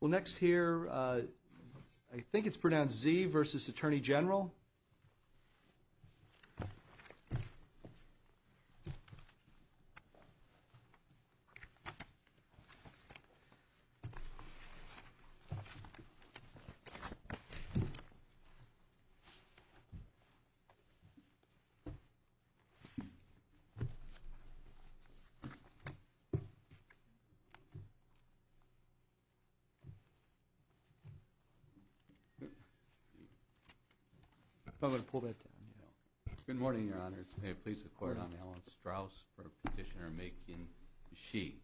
Well, next here, I think it's pronounced Zee v. Attorney General. Good morning, Your Honors. May it please the Court, I'm Alan Strauss for Petitioner Macon Shee.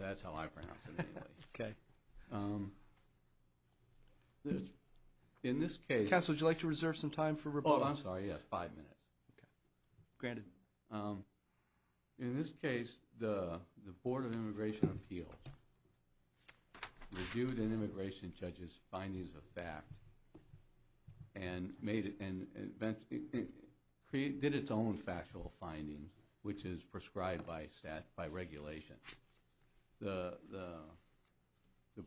That's how I pronounce it anyway. Counsel, would you like to reserve some time for rebuttal? Oh, I'm sorry, yes, five minutes. Granted. In this case, the Board of Immigration Appeals reviewed an immigration judge's findings of fact and did its own factual findings, which is prescribed by regulation. The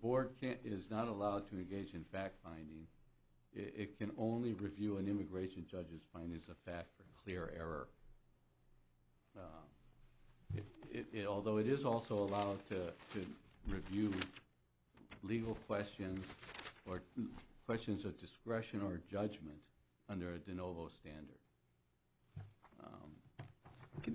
Board is not allowed to engage in fact-finding. It can only review an immigration judge's findings of fact for clear error. Although it is also allowed to review legal questions or questions of discretion or judgment under a de novo standard.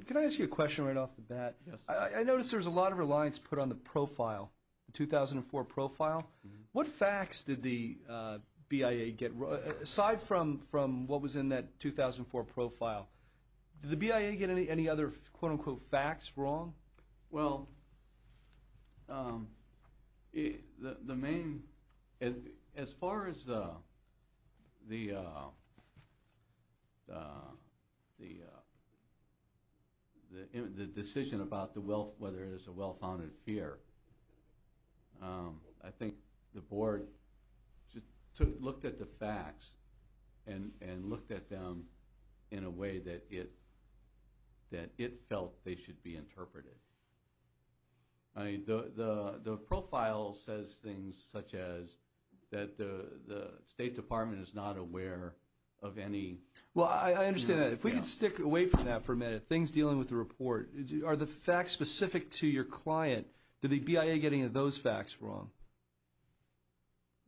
Can I ask you a question right off the bat? Yes. I notice there's a lot of reliance put on the profile, the 2004 profile. What facts did the BIA get wrong, aside from what was in that 2004 profile? Did the BIA get any other quote-unquote facts wrong? Well, as far as the decision about whether it is a well-founded fear, I think the Board looked at the facts and looked at them in a way that it felt they should be interpreted. The profile says things such as that the State Department is not aware of any... Well, I understand that. If we could stick away from that for a minute, things dealing with the report. Are the facts specific to your client? Did the BIA get any of those facts wrong?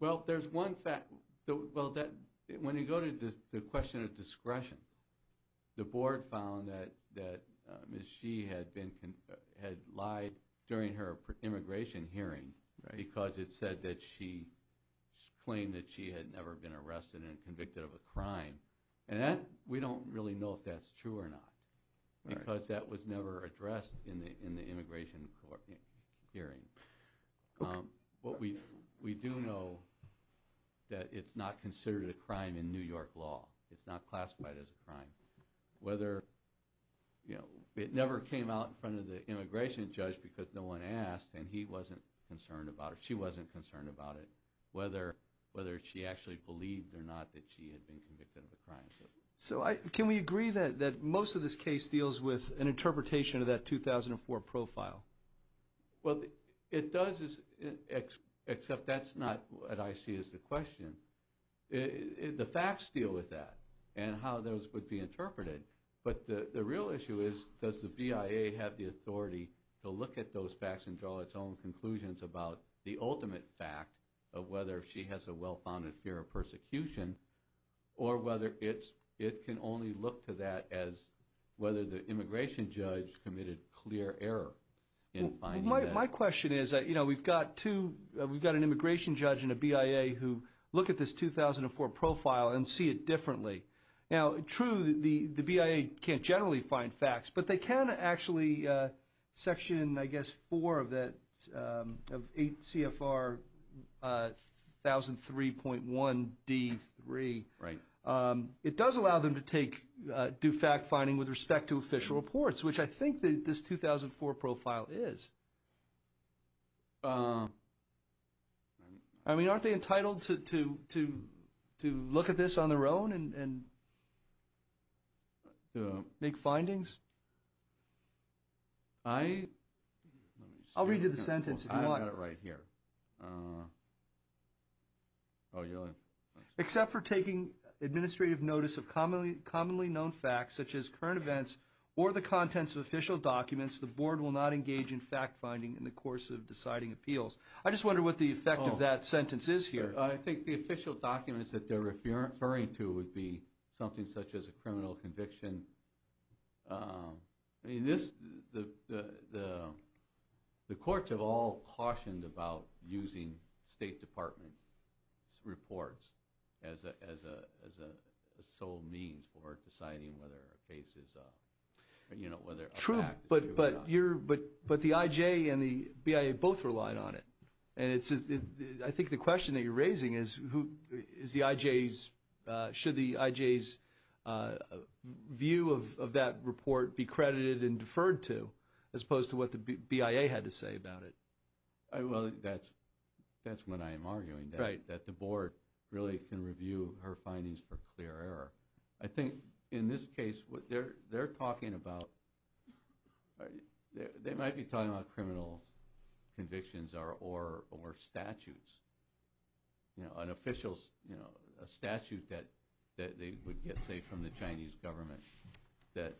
Well, there's one fact. When you go to the question of discretion, the Board found that Ms. Shee had lied during her immigration hearing because it claimed that she had never been arrested and convicted of a crime. We don't really know if that's true or not because that was never addressed in the immigration hearing. What we do know is that it's not considered a crime in New York law. It's not classified as a crime. It never came out in front of the immigration judge because no one asked, and he wasn't concerned about it or she wasn't concerned about it, whether she actually believed or not that she had been convicted of a crime. Can we agree that most of this case deals with an interpretation of that 2004 profile? Well, it does, except that's not what I see as the question. The facts deal with that and how those would be interpreted, but the real issue is does the BIA have the authority to look at those facts and draw its own conclusions about the ultimate fact of whether she has a well-founded fear of persecution or whether it can only look to that as whether the immigration judge committed clear error in finding that? My question is we've got an immigration judge and a BIA who look at this 2004 profile and see it differently. Now, true, the BIA can't generally find facts, but they can actually section, I guess, 4 of 8 CFR 1003.1D3. It does allow them to do fact-finding with respect to official reports, which I think this 2004 profile is. Aren't they entitled to look at this on their own and make findings? I'll read you the sentence if you want. Except for taking administrative notice of commonly known facts, such as current events or the contents of official documents, the board will not engage in fact-finding in the course of deciding appeals. I just wonder what the effect of that sentence is here. I think the official documents that they're referring to would be something such as a criminal conviction. The courts have all cautioned about using State Department reports as a sole means for deciding whether a case is, you know, whether a fact is true or not. True, but the IJ and the BIA both relied on it. And I think the question that you're raising is should the IJ's view of that report be credited and deferred to as opposed to what the BIA had to say about it? Well, that's what I'm arguing, that the board really can review her findings for clear error. I think in this case what they're talking about, they might be talking about criminal convictions or statutes, you know, an official statute that they would get, say, from the Chinese government, that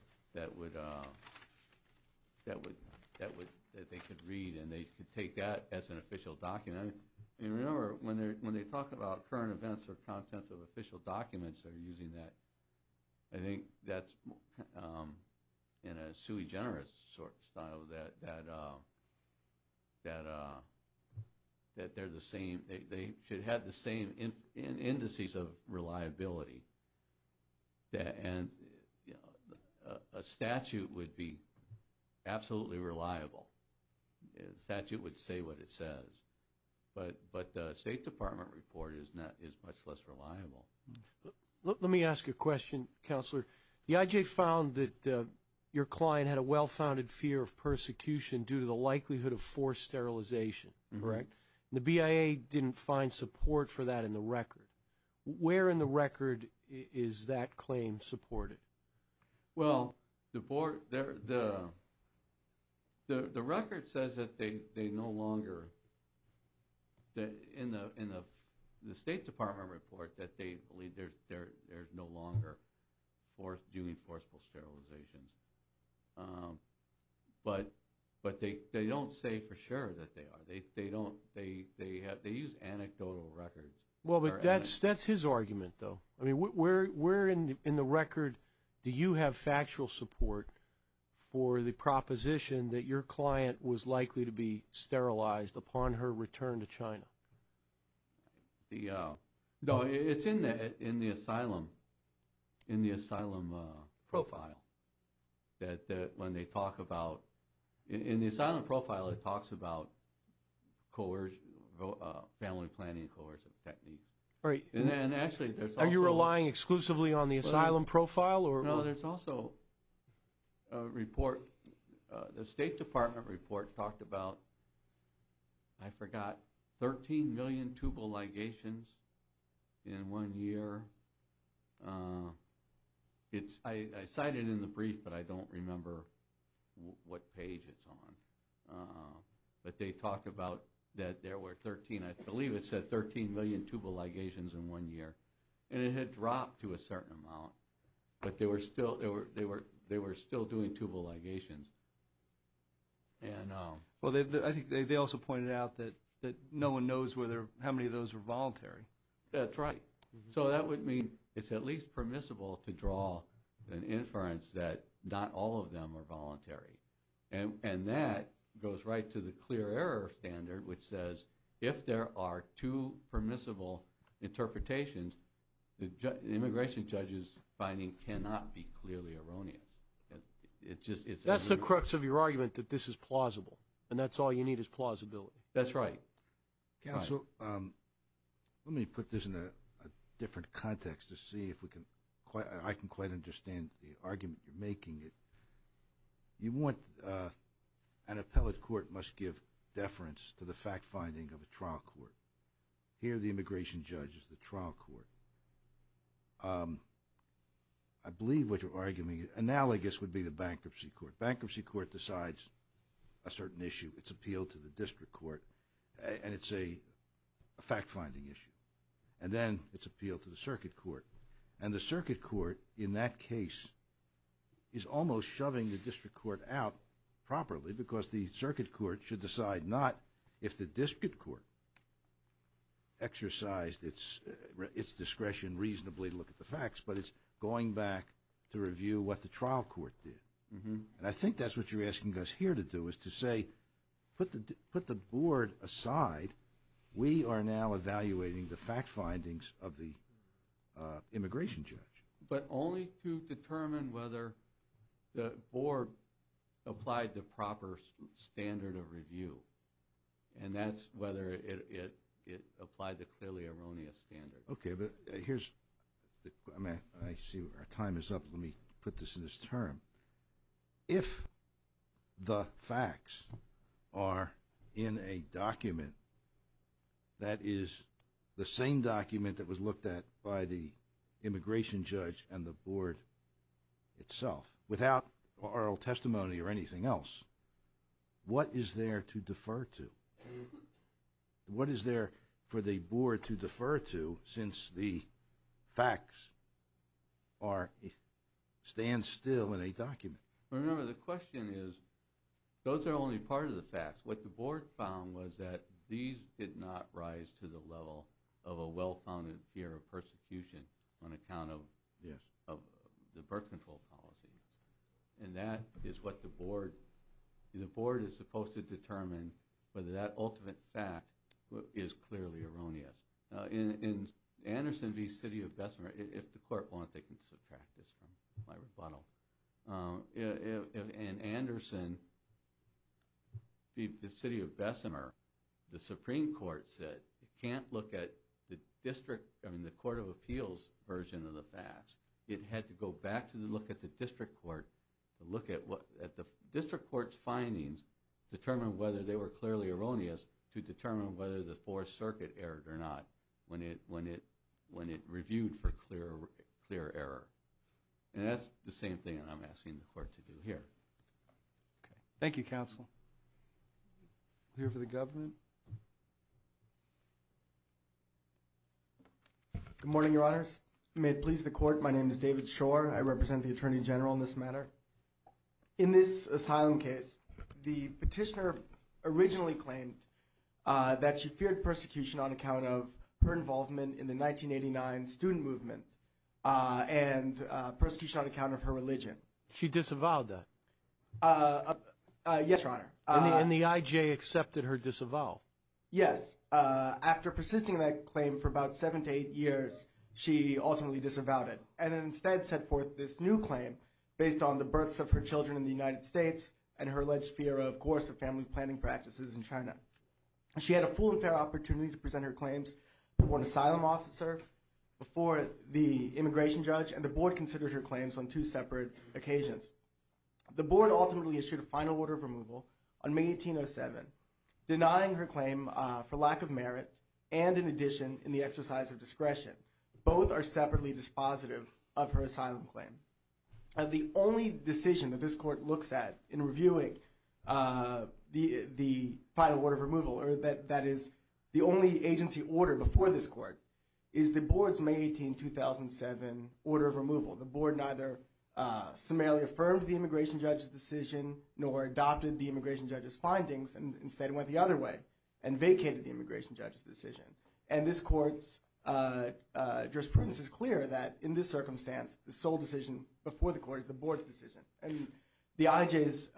they could read and they could take that as an official document. And remember when they talk about current events or contents of official documents, they're using that. I think that's in a sui generis sort of style that they're the same. They should have the same indices of reliability. And, you know, a statute would be absolutely reliable. A statute would say what it says. But the State Department report is much less reliable. Let me ask you a question, Counselor. The IJ found that your client had a well-founded fear of persecution due to the likelihood of forced sterilization, correct? The BIA didn't find support for that in the record. Where in the record is that claim supported? Well, the record says that they no longer, in the State Department report, that they believe there's no longer due and forcible sterilizations. But they don't say for sure that they are. They use anecdotal records. Well, but that's his argument, though. I mean, where in the record do you have factual support for the proposition that your client was likely to be sterilized upon her return to China? No, it's in the asylum profile that when they talk about – in the asylum profile it talks about coercion, family planning coercive technique. Are you relying exclusively on the asylum profile? No, there's also a report. The State Department report talked about, I forgot, 13 million tubal ligations in one year. I cited it in the brief, but I don't remember what page it's on. But they talked about that there were 13 – I believe it said 13 million tubal ligations in one year. And it had dropped to a certain amount. But they were still doing tubal ligations. Well, I think they also pointed out that no one knows how many of those were voluntary. That's right. So that would mean it's at least permissible to draw an inference that not all of them are voluntary. And that goes right to the clear error standard, which says if there are two permissible interpretations, the immigration judge's finding cannot be clearly erroneous. That's the crux of your argument, that this is plausible, and that's all you need is plausibility. That's right. Counsel, let me put this in a different context to see if we can – I can quite understand the argument you're making. You want – an appellate court must give deference to the fact-finding of a trial court. Here the immigration judge is the trial court. I believe what you're arguing – analogous would be the bankruptcy court. Bankruptcy court decides a certain issue. It's appealed to the district court, and it's a fact-finding issue. And then it's appealed to the circuit court. And the circuit court in that case is almost shoving the district court out properly because the circuit court should decide not if the district court exercised its discretion reasonably to look at the facts, but it's going back to review what the trial court did. And I think that's what you're asking us here to do is to say put the board aside. We are now evaluating the fact findings of the immigration judge. But only to determine whether the board applied the proper standard of review, and that's whether it applied the clearly erroneous standard. Okay, but here's – I see our time is up. Let me put this in this term. If the facts are in a document that is the same document that was looked at by the immigration judge and the board itself, without oral testimony or anything else, Remember, the question is those are only part of the facts. What the board found was that these did not rise to the level of a well-founded fear of persecution on account of the birth control policy. And that is what the board – the board is supposed to determine whether that ultimate fact is clearly erroneous. In Anderson v. City of Bessemer, if the court wants they can subtract this from my rebuttal. In Anderson v. City of Bessemer, the Supreme Court said it can't look at the district – I mean the Court of Appeals version of the facts. It had to go back to look at the district court to look at what – at the district court's findings to determine whether they were clearly erroneous to determine whether the Fourth Circuit erred or not when it reviewed for clear error. And that's the same thing I'm asking the court to do here. Okay. Thank you, counsel. We'll hear from the government. Good morning, Your Honors. May it please the court, my name is David Shore. I represent the Attorney General in this matter. In this asylum case, the petitioner originally claimed that she feared persecution on account of her involvement in the 1989 student movement and persecution on account of her religion. She disavowed that? Yes, Your Honor. And the IJ accepted her disavowal? Yes. After persisting that claim for about seven to eight years, she ultimately disavowed it and instead set forth this new claim based on the births of her children in the United States and her alleged fear, of course, of family planning practices in China. She had a full and fair opportunity to present her claims before an asylum officer, before the immigration judge, and the board considered her claims on two separate occasions. The board ultimately issued a final order of removal on May 18, 07, denying her claim for lack of merit and in addition in the exercise of discretion. Both are separately dispositive of her asylum claim. The only decision that this court looks at in reviewing the final order of removal, or that is the only agency order before this court, is the board's May 18, 2007 order of removal. The board neither summarily affirmed the immigration judge's decision nor adopted the immigration judge's findings and instead went the other way and vacated the immigration judge's decision. And this court's jurisprudence is clear that in this circumstance, the sole decision before the court is the board's decision. The IJ's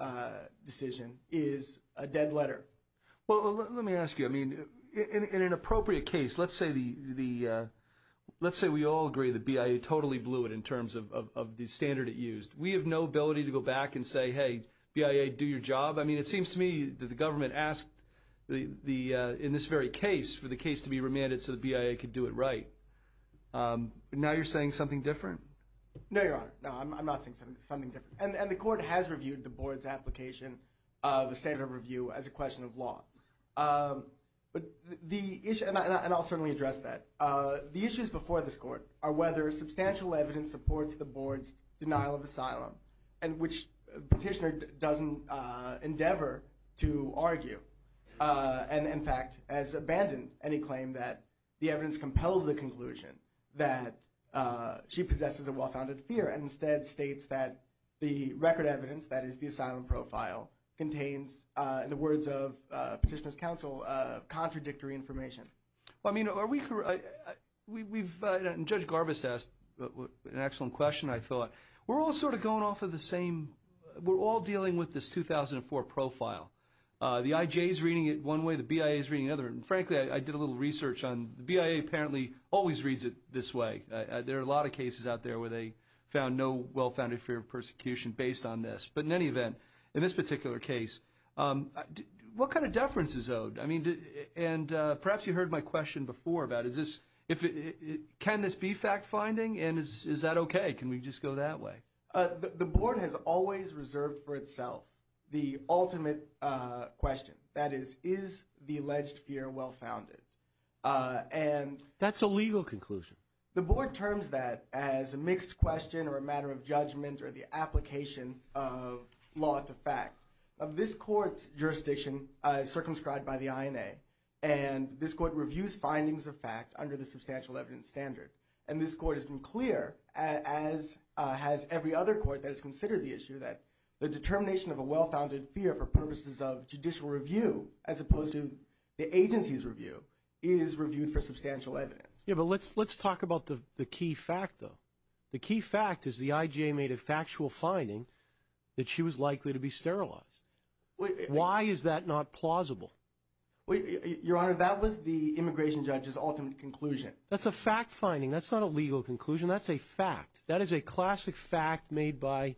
decision is a dead letter. Well, let me ask you. In an appropriate case, let's say we all agree that BIA totally blew it in terms of the standard it used. We have no ability to go back and say, hey, BIA, do your job. I mean, it seems to me that the government asked in this very case for the case to be remanded so that BIA could do it right. Now you're saying something different? No, Your Honor. No, I'm not saying something different. And the court has reviewed the board's application of a standard of review as a question of law. And I'll certainly address that. The issues before this court are whether substantial evidence supports the board's denial of asylum, and which the petitioner doesn't endeavor to argue. And, in fact, has abandoned any claim that the evidence compels the conclusion that she possesses a well-founded fear and instead states that the record evidence, that is the asylum profile, contains, in the words of the petitioner's counsel, contradictory information. Well, I mean, are we correct? Judge Garbus asked an excellent question, I thought. We're all sort of going off of the same, we're all dealing with this 2004 profile. The IJ is reading it one way, the BIA is reading it another. And, frankly, I did a little research on the BIA apparently always reads it this way. There are a lot of cases out there where they found no well-founded fear of persecution based on this. But, in any event, in this particular case, what kind of deference is owed? I mean, and perhaps you heard my question before about is this, can this be fact-finding and is that okay? Can we just go that way? The board has always reserved for itself the ultimate question, that is, is the alleged fear well-founded? That's a legal conclusion. The board terms that as a mixed question or a matter of judgment or the application of law to fact. This court's jurisdiction is circumscribed by the INA. And this court reviews findings of fact under the substantial evidence standard. And this court has been clear, as has every other court that has considered the issue, that the determination of a well-founded fear for purposes of judicial review, as opposed to the agency's review, is reviewed for substantial evidence. Yeah, but let's talk about the key fact, though. The key fact is the IJ made a factual finding that she was likely to be sterilized. Why is that not plausible? Your Honor, that was the immigration judge's ultimate conclusion. That's a fact-finding. That's not a legal conclusion. That's a fact. That is a classic fact made by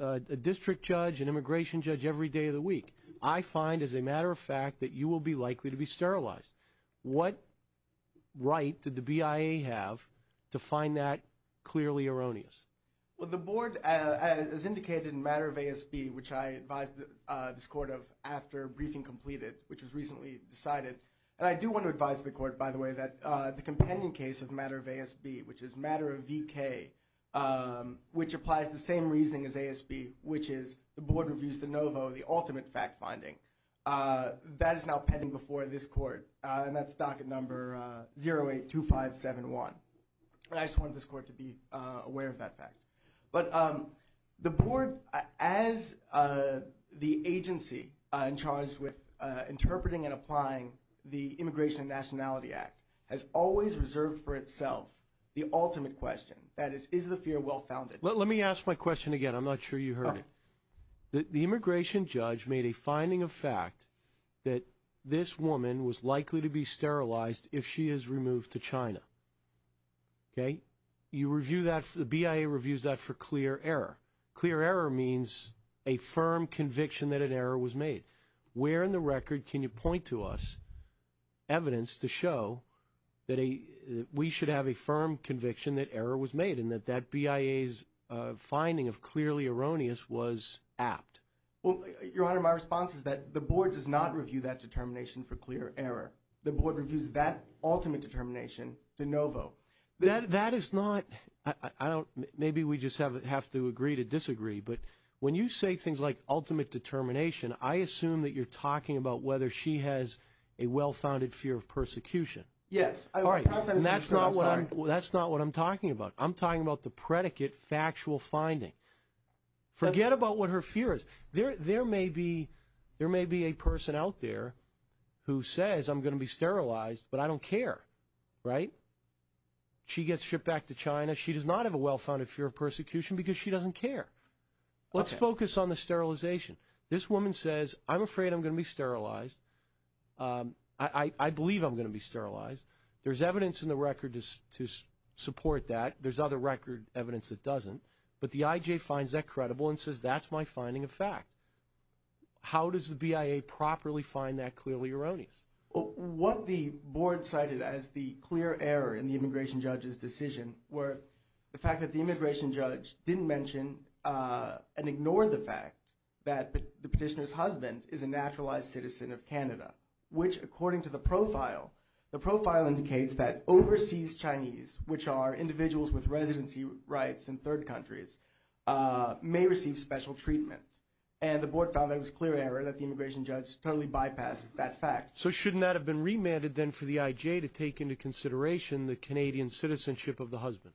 a district judge, an immigration judge every day of the week. I find, as a matter of fact, that you will be likely to be sterilized. What right did the BIA have to find that clearly erroneous? Well, the board, as indicated in matter of ASB, which I advised this court of after briefing completed, which was recently decided, and I do want to advise the court, by the way, that the compendium case of matter of ASB, which is matter of VK, which applies the same reasoning as ASB, which is the board reviews de novo the ultimate fact-finding, that is now pending before this court, and that's docket number 082571. I just wanted this court to be aware of that fact. But the board, as the agency in charge with interpreting and applying the Immigration and Nationality Act, has always reserved for itself the ultimate question, that is, is the fear well-founded? Let me ask my question again. I'm not sure you heard it. The immigration judge made a finding of fact that this woman was likely to be sterilized if she is removed to China. Okay? The BIA reviews that for clear error. Clear error means a firm conviction that an error was made. Where in the record can you point to us evidence to show that we should have a firm conviction that error was made and that that BIA's finding of clearly erroneous was apt? Well, Your Honor, my response is that the board does not review that determination for clear error. The board reviews that ultimate determination de novo. That is not ñ maybe we just have to agree to disagree, but when you say things like ultimate determination, I assume that you're talking about whether she has a well-founded fear of persecution. Yes. And that's not what I'm talking about. I'm talking about the predicate factual finding. Forget about what her fear is. There may be a person out there who says, I'm going to be sterilized, but I don't care. Right? She gets shipped back to China. She does not have a well-founded fear of persecution because she doesn't care. Let's focus on the sterilization. This woman says, I'm afraid I'm going to be sterilized. I believe I'm going to be sterilized. There's evidence in the record to support that. There's other record evidence that doesn't. But the IJ finds that credible and says, that's my finding of fact. How does the BIA properly find that clearly erroneous? What the board cited as the clear error in the immigration judge's decision were the fact that the immigration judge didn't mention and ignored the fact that the petitioner's husband is a naturalized citizen of Canada, which according to the profile, the profile indicates that overseas Chinese, which are individuals with residency rights in third countries, may receive special treatment. And the board found that it was clear error that the immigration judge totally bypassed that fact. So shouldn't that have been remanded then for the IJ to take into consideration the Canadian citizenship of the husband?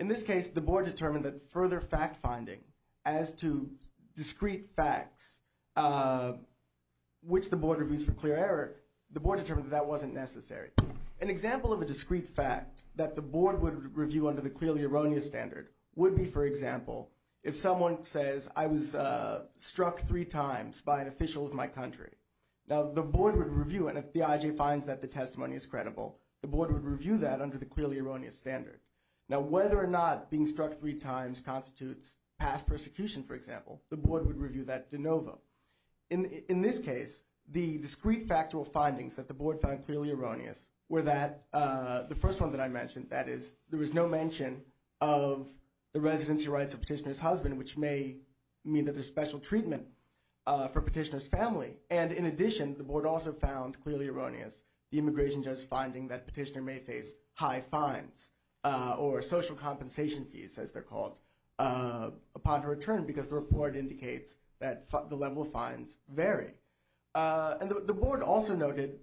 In this case, the board determined that further fact finding as to discrete facts, which the board reviews for clear error, the board determined that that wasn't necessary. An example of a discrete fact that the board would review under the clearly erroneous standard would be, for example, if someone says, I was struck three times by an official of my country. Now, the board would review it. If the IJ finds that the testimony is credible, the board would review that under the clearly erroneous standard. Now, whether or not being struck three times constitutes past persecution, for example, the board would review that de novo. In this case, the discrete factual findings that the board found clearly erroneous were that the first one that I mentioned, that is there was no mention of the residency rights of petitioner's husband, which may mean that there's special treatment for petitioner's family. And in addition, the board also found clearly erroneous the immigration judge's finding that petitioner may face high fines or social compensation fees, as they're called, upon her return because the report indicates that the level of fines vary. And the board also noted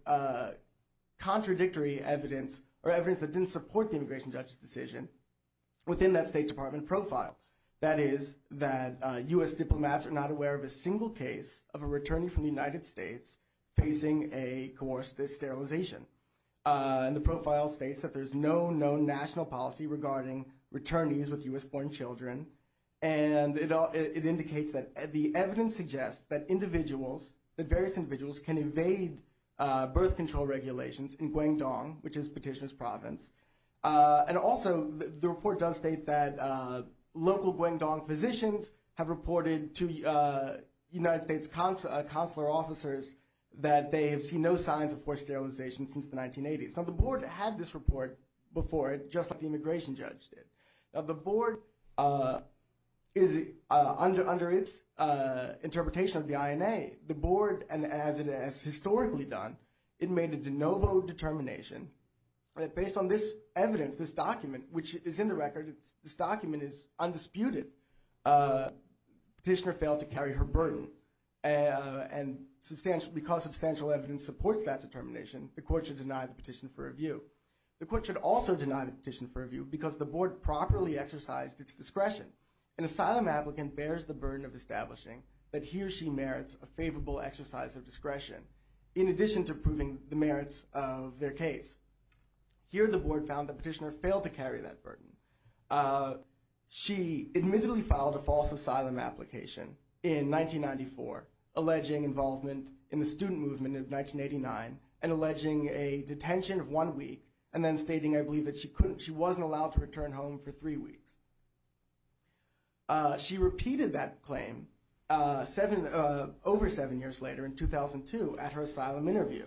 contradictory evidence or evidence that didn't support the immigration judge's decision within that State Department profile. That is that U.S. diplomats are not aware of a single case of a returnee from the United States facing a coerced sterilization. And the profile states that there's no known national policy regarding returnees with U.S.-born children. And it indicates that the evidence suggests that individuals, that various individuals can evade birth control regulations in Guangdong, which is petitioner's province. And also the report does state that local Guangdong physicians have reported to United States consular officers that they have seen no signs of coerced sterilization since the 1980s. So the board had this report before, just like the immigration judge did. The board is, under its interpretation of the INA, the board, and as it has historically done, it made a de novo determination that based on this evidence, this document, which is in the record, this document is undisputed, petitioner failed to carry her burden. And because substantial evidence supports that determination, the court should deny the petition for review. The court should also deny the petition for review because the board properly exercised its discretion. An asylum applicant bears the burden of establishing that he or she merits a favorable exercise of discretion, in addition to proving the merits of their case. Here the board found the petitioner failed to carry that burden. She admittedly filed a false asylum application in 1994, alleging involvement in the student movement of 1989, and alleging a detention of one week, and then stating, I believe, that she wasn't allowed to return home for three weeks. She repeated that claim over seven years later, in 2002, at her asylum interview.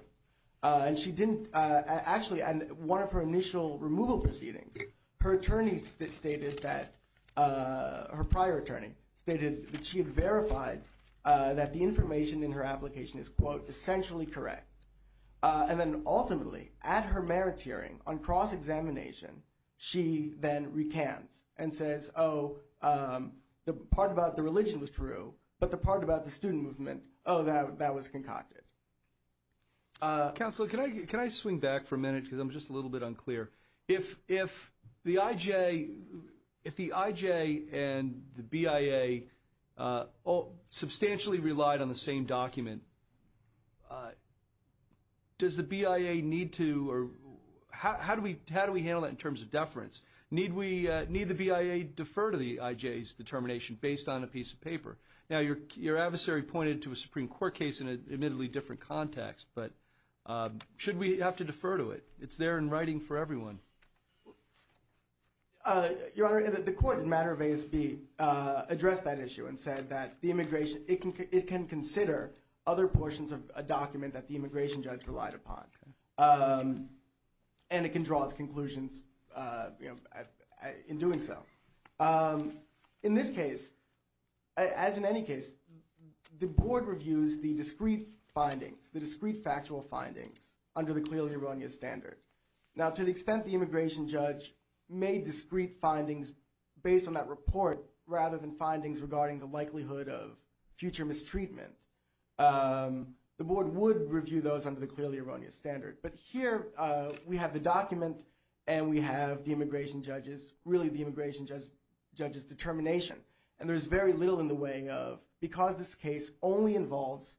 And she didn't, actually, at one of her initial removal proceedings, her attorneys stated that, her prior attorney stated that she had verified that the information in her application is, quote, essentially correct. And then ultimately, at her merits hearing, on cross-examination, she then recants and says, oh, the part about the religion was true, but the part about the student movement, oh, that was concocted. Counsel, can I swing back for a minute because I'm just a little bit unclear? If the IJ and the BIA substantially relied on the same document, does the BIA need to, or how do we handle that in terms of deference? Need the BIA defer to the IJ's determination based on a piece of paper? Now, your adversary pointed to a Supreme Court case in an admittedly different context, but should we have to defer to it? It's there in writing for everyone. Your Honor, the court in matter of ASB addressed that issue and said that the immigration, it can consider other portions of a document that the immigration judge relied upon, and it can draw its conclusions in doing so. In this case, as in any case, the board reviews the discrete findings, the discrete factual findings under the clearly erroneous standard. Now, to the extent the immigration judge made discrete findings based on that report rather than findings regarding the likelihood of future mistreatment, the board would review those under the clearly erroneous standard. But here we have the document and we have the immigration judge's, really the immigration judge's determination, and there's very little in the way of, because this case only involves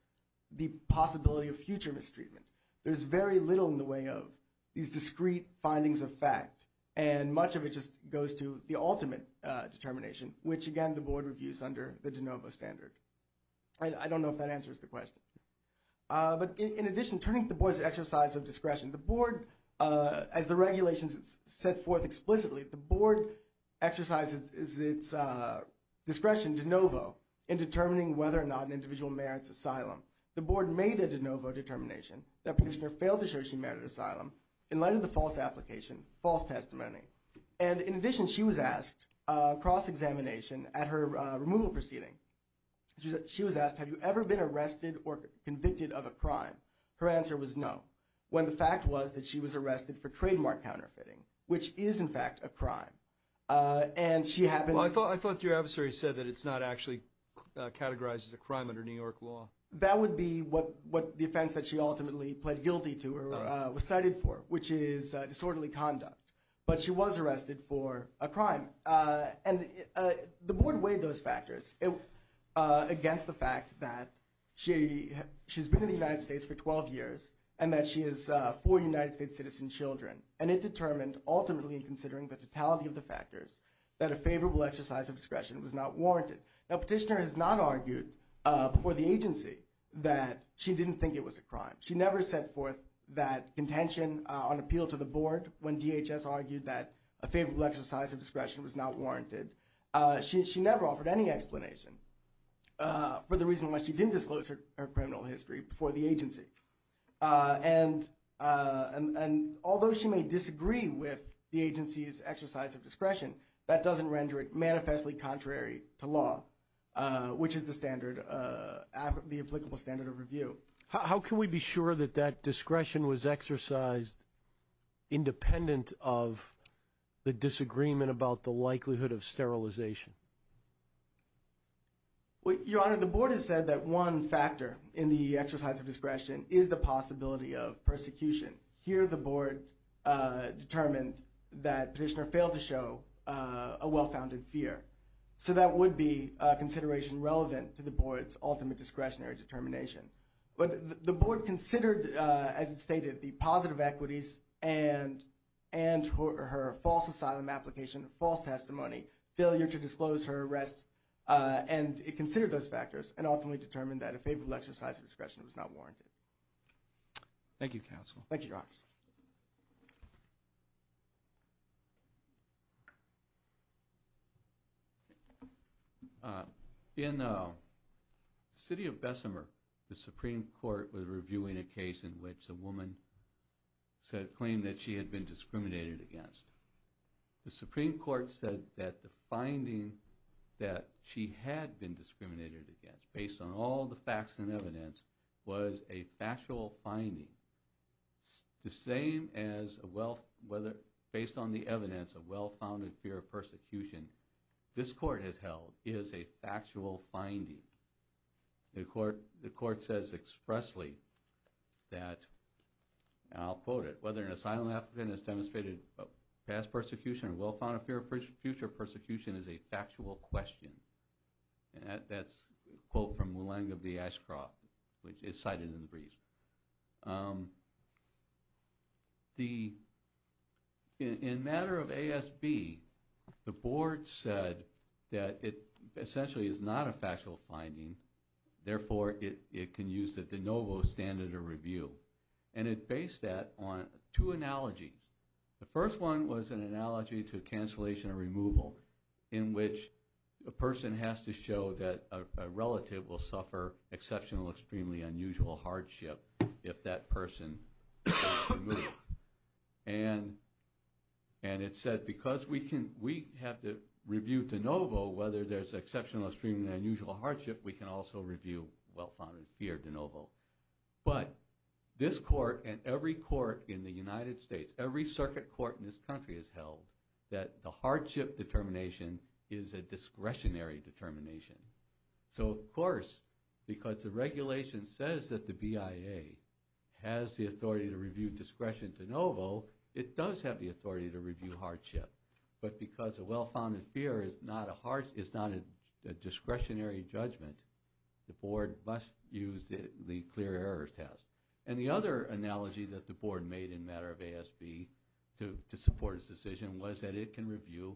the possibility of future mistreatment, there's very little in the way of these discrete findings of fact, and much of it just goes to the ultimate determination, which, again, the board reviews under the de novo standard. I don't know if that answers the question. But in addition, turning to the board's exercise of discretion, the board, as the regulations set forth explicitly, the board exercises its discretion de novo in determining whether or not an individual merits asylum. The board made a de novo determination that petitioner failed to show she merited asylum in light of the false application, false testimony, and in addition, she was asked cross-examination at her removal proceeding. She was asked, have you ever been arrested or convicted of a crime? Her answer was no, when the fact was that she was arrested for trademark counterfeiting, which is, in fact, a crime. And she happened to- Well, I thought your adversary said that it's not actually categorized as a crime under New York law. That would be what the offense that she ultimately pled guilty to or was cited for, which is disorderly conduct. But she was arrested for a crime. And the board weighed those factors against the fact that she's been in the United States for 12 years and that she has four United States citizen children. And it determined, ultimately considering the totality of the factors, that a favorable exercise of discretion was not warranted. Now, petitioner has not argued before the agency that she didn't think it was a crime. She never set forth that intention on appeal to the board when DHS argued that a favorable exercise of discretion was not warranted. She never offered any explanation for the reason why she didn't disclose her criminal history before the agency. And although she may disagree with the agency's exercise of discretion, that doesn't render it manifestly contrary to law, which is the standard, the applicable standard of review. So how can we be sure that that discretion was exercised independent of the disagreement about the likelihood of sterilization? Your Honor, the board has said that one factor in the exercise of discretion is the possibility of persecution. Here the board determined that petitioner failed to show a well-founded fear. So that would be a consideration relevant to the board's ultimate discretionary determination. But the board considered, as it stated, the positive equities and her false asylum application, false testimony, failure to disclose her arrest, and it considered those factors and ultimately determined that a favorable exercise of discretion was not warranted. Thank you, counsel. Thank you, Your Honor. In the city of Bessemer, the Supreme Court was reviewing a case in which a woman claimed that she had been discriminated against. The Supreme Court said that the finding that she had been discriminated against, based on all the facts and evidence, was a factual finding. The same as based on the evidence of well-founded fear of persecution this court has held is a factual finding. The court says expressly that, and I'll quote it, whether an asylum applicant has demonstrated past persecution or well-founded fear of future persecution is a factual question. And that's a quote from Mulanga V. Ashcroft, which is cited in the brief. In matter of ASB, the board said that it essentially is not a factual finding. Therefore, it can use the de novo standard of review. And it based that on two analogies. The first one was an analogy to cancellation or removal, in which a person has to show that a relative will suffer exceptional, extremely unusual hardship if that person is removed. And it said because we have to review de novo, whether there's exceptional, extremely unusual hardship, we can also review well-founded fear de novo. But this court and every court in the United States, every circuit court in this country has held that the hardship determination is a discretionary determination. So, of course, because the regulation says that the BIA has the authority to review discretion de novo, it does have the authority to review hardship. But because a well-founded fear is not a discretionary judgment, the board must use the clear errors test. And the other analogy that the board made in matter of ASB to support its decision was that it can review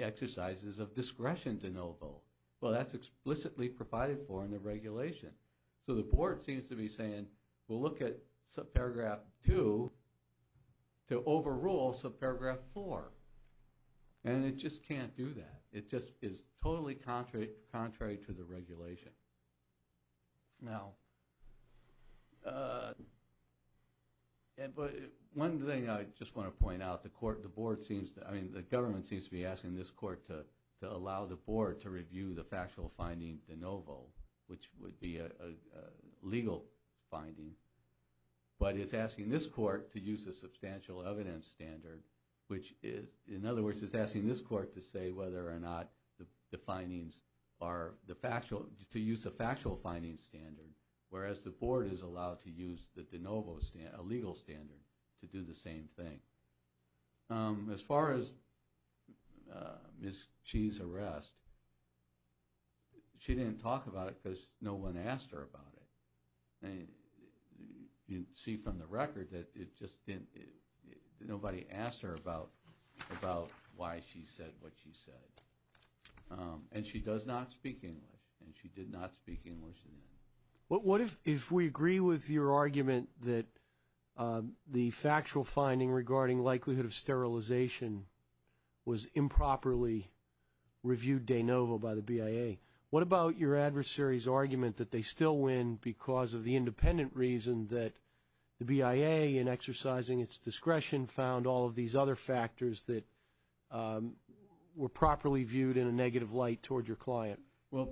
exercises of discretion de novo. Well, that's explicitly provided for in the regulation. So the board seems to be saying we'll look at subparagraph 2 to overrule subparagraph 4. And it just can't do that. It just is totally contrary to the regulation. Now, one thing I just want to point out, the court, the board seems to, I mean, the government seems to be asking this court to allow the board to review the factual finding de novo, which would be a legal finding. But it's asking this court to use the substantial evidence standard, which is, in other words, it's asking this court to say whether or not the findings are the factual, to use the factual findings standard, whereas the board is allowed to use the de novo standard, a legal standard, to do the same thing. As far as Ms. Chee's arrest, she didn't talk about it because no one asked her about it. You can see from the record that nobody asked her about why she said what she said. And she does not speak English, and she did not speak English then. What if we agree with your argument that the factual finding regarding likelihood of sterilization was improperly reviewed de novo by the BIA? What about your adversary's argument that they still win because of the independent reason that the BIA, in exercising its discretion, found all of these other factors that were properly viewed in a negative light toward your client? Well,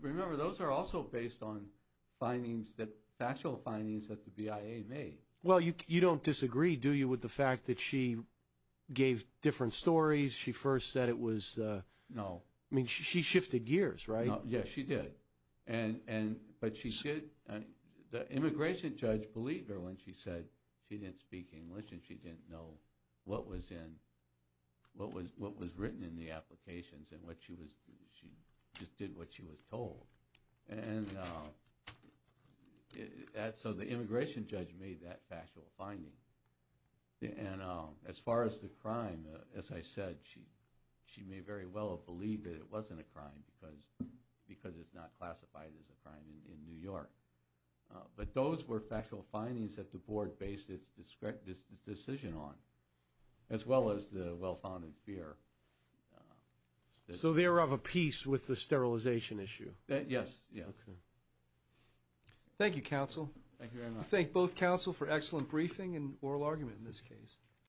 remember, those are also based on findings that, factual findings that the BIA made. Well, you don't disagree, do you, with the fact that she gave different stories, she first said it was? No. I mean, she shifted gears, right? Yes, she did. But the immigration judge believed her when she said she didn't speak English and she didn't know what was written in the applications and she just did what she was told. So the immigration judge made that factual finding. And as far as the crime, as I said, she may very well have believed that it wasn't a crime because it's not classified as a crime in New York. But those were factual findings that the board based its decision on, as well as the well-founded fear. So they were of a peace with the sterilization issue? Yes. Thank you, counsel. Thank you very much. I thank both counsel for excellent briefing and oral argument in this case.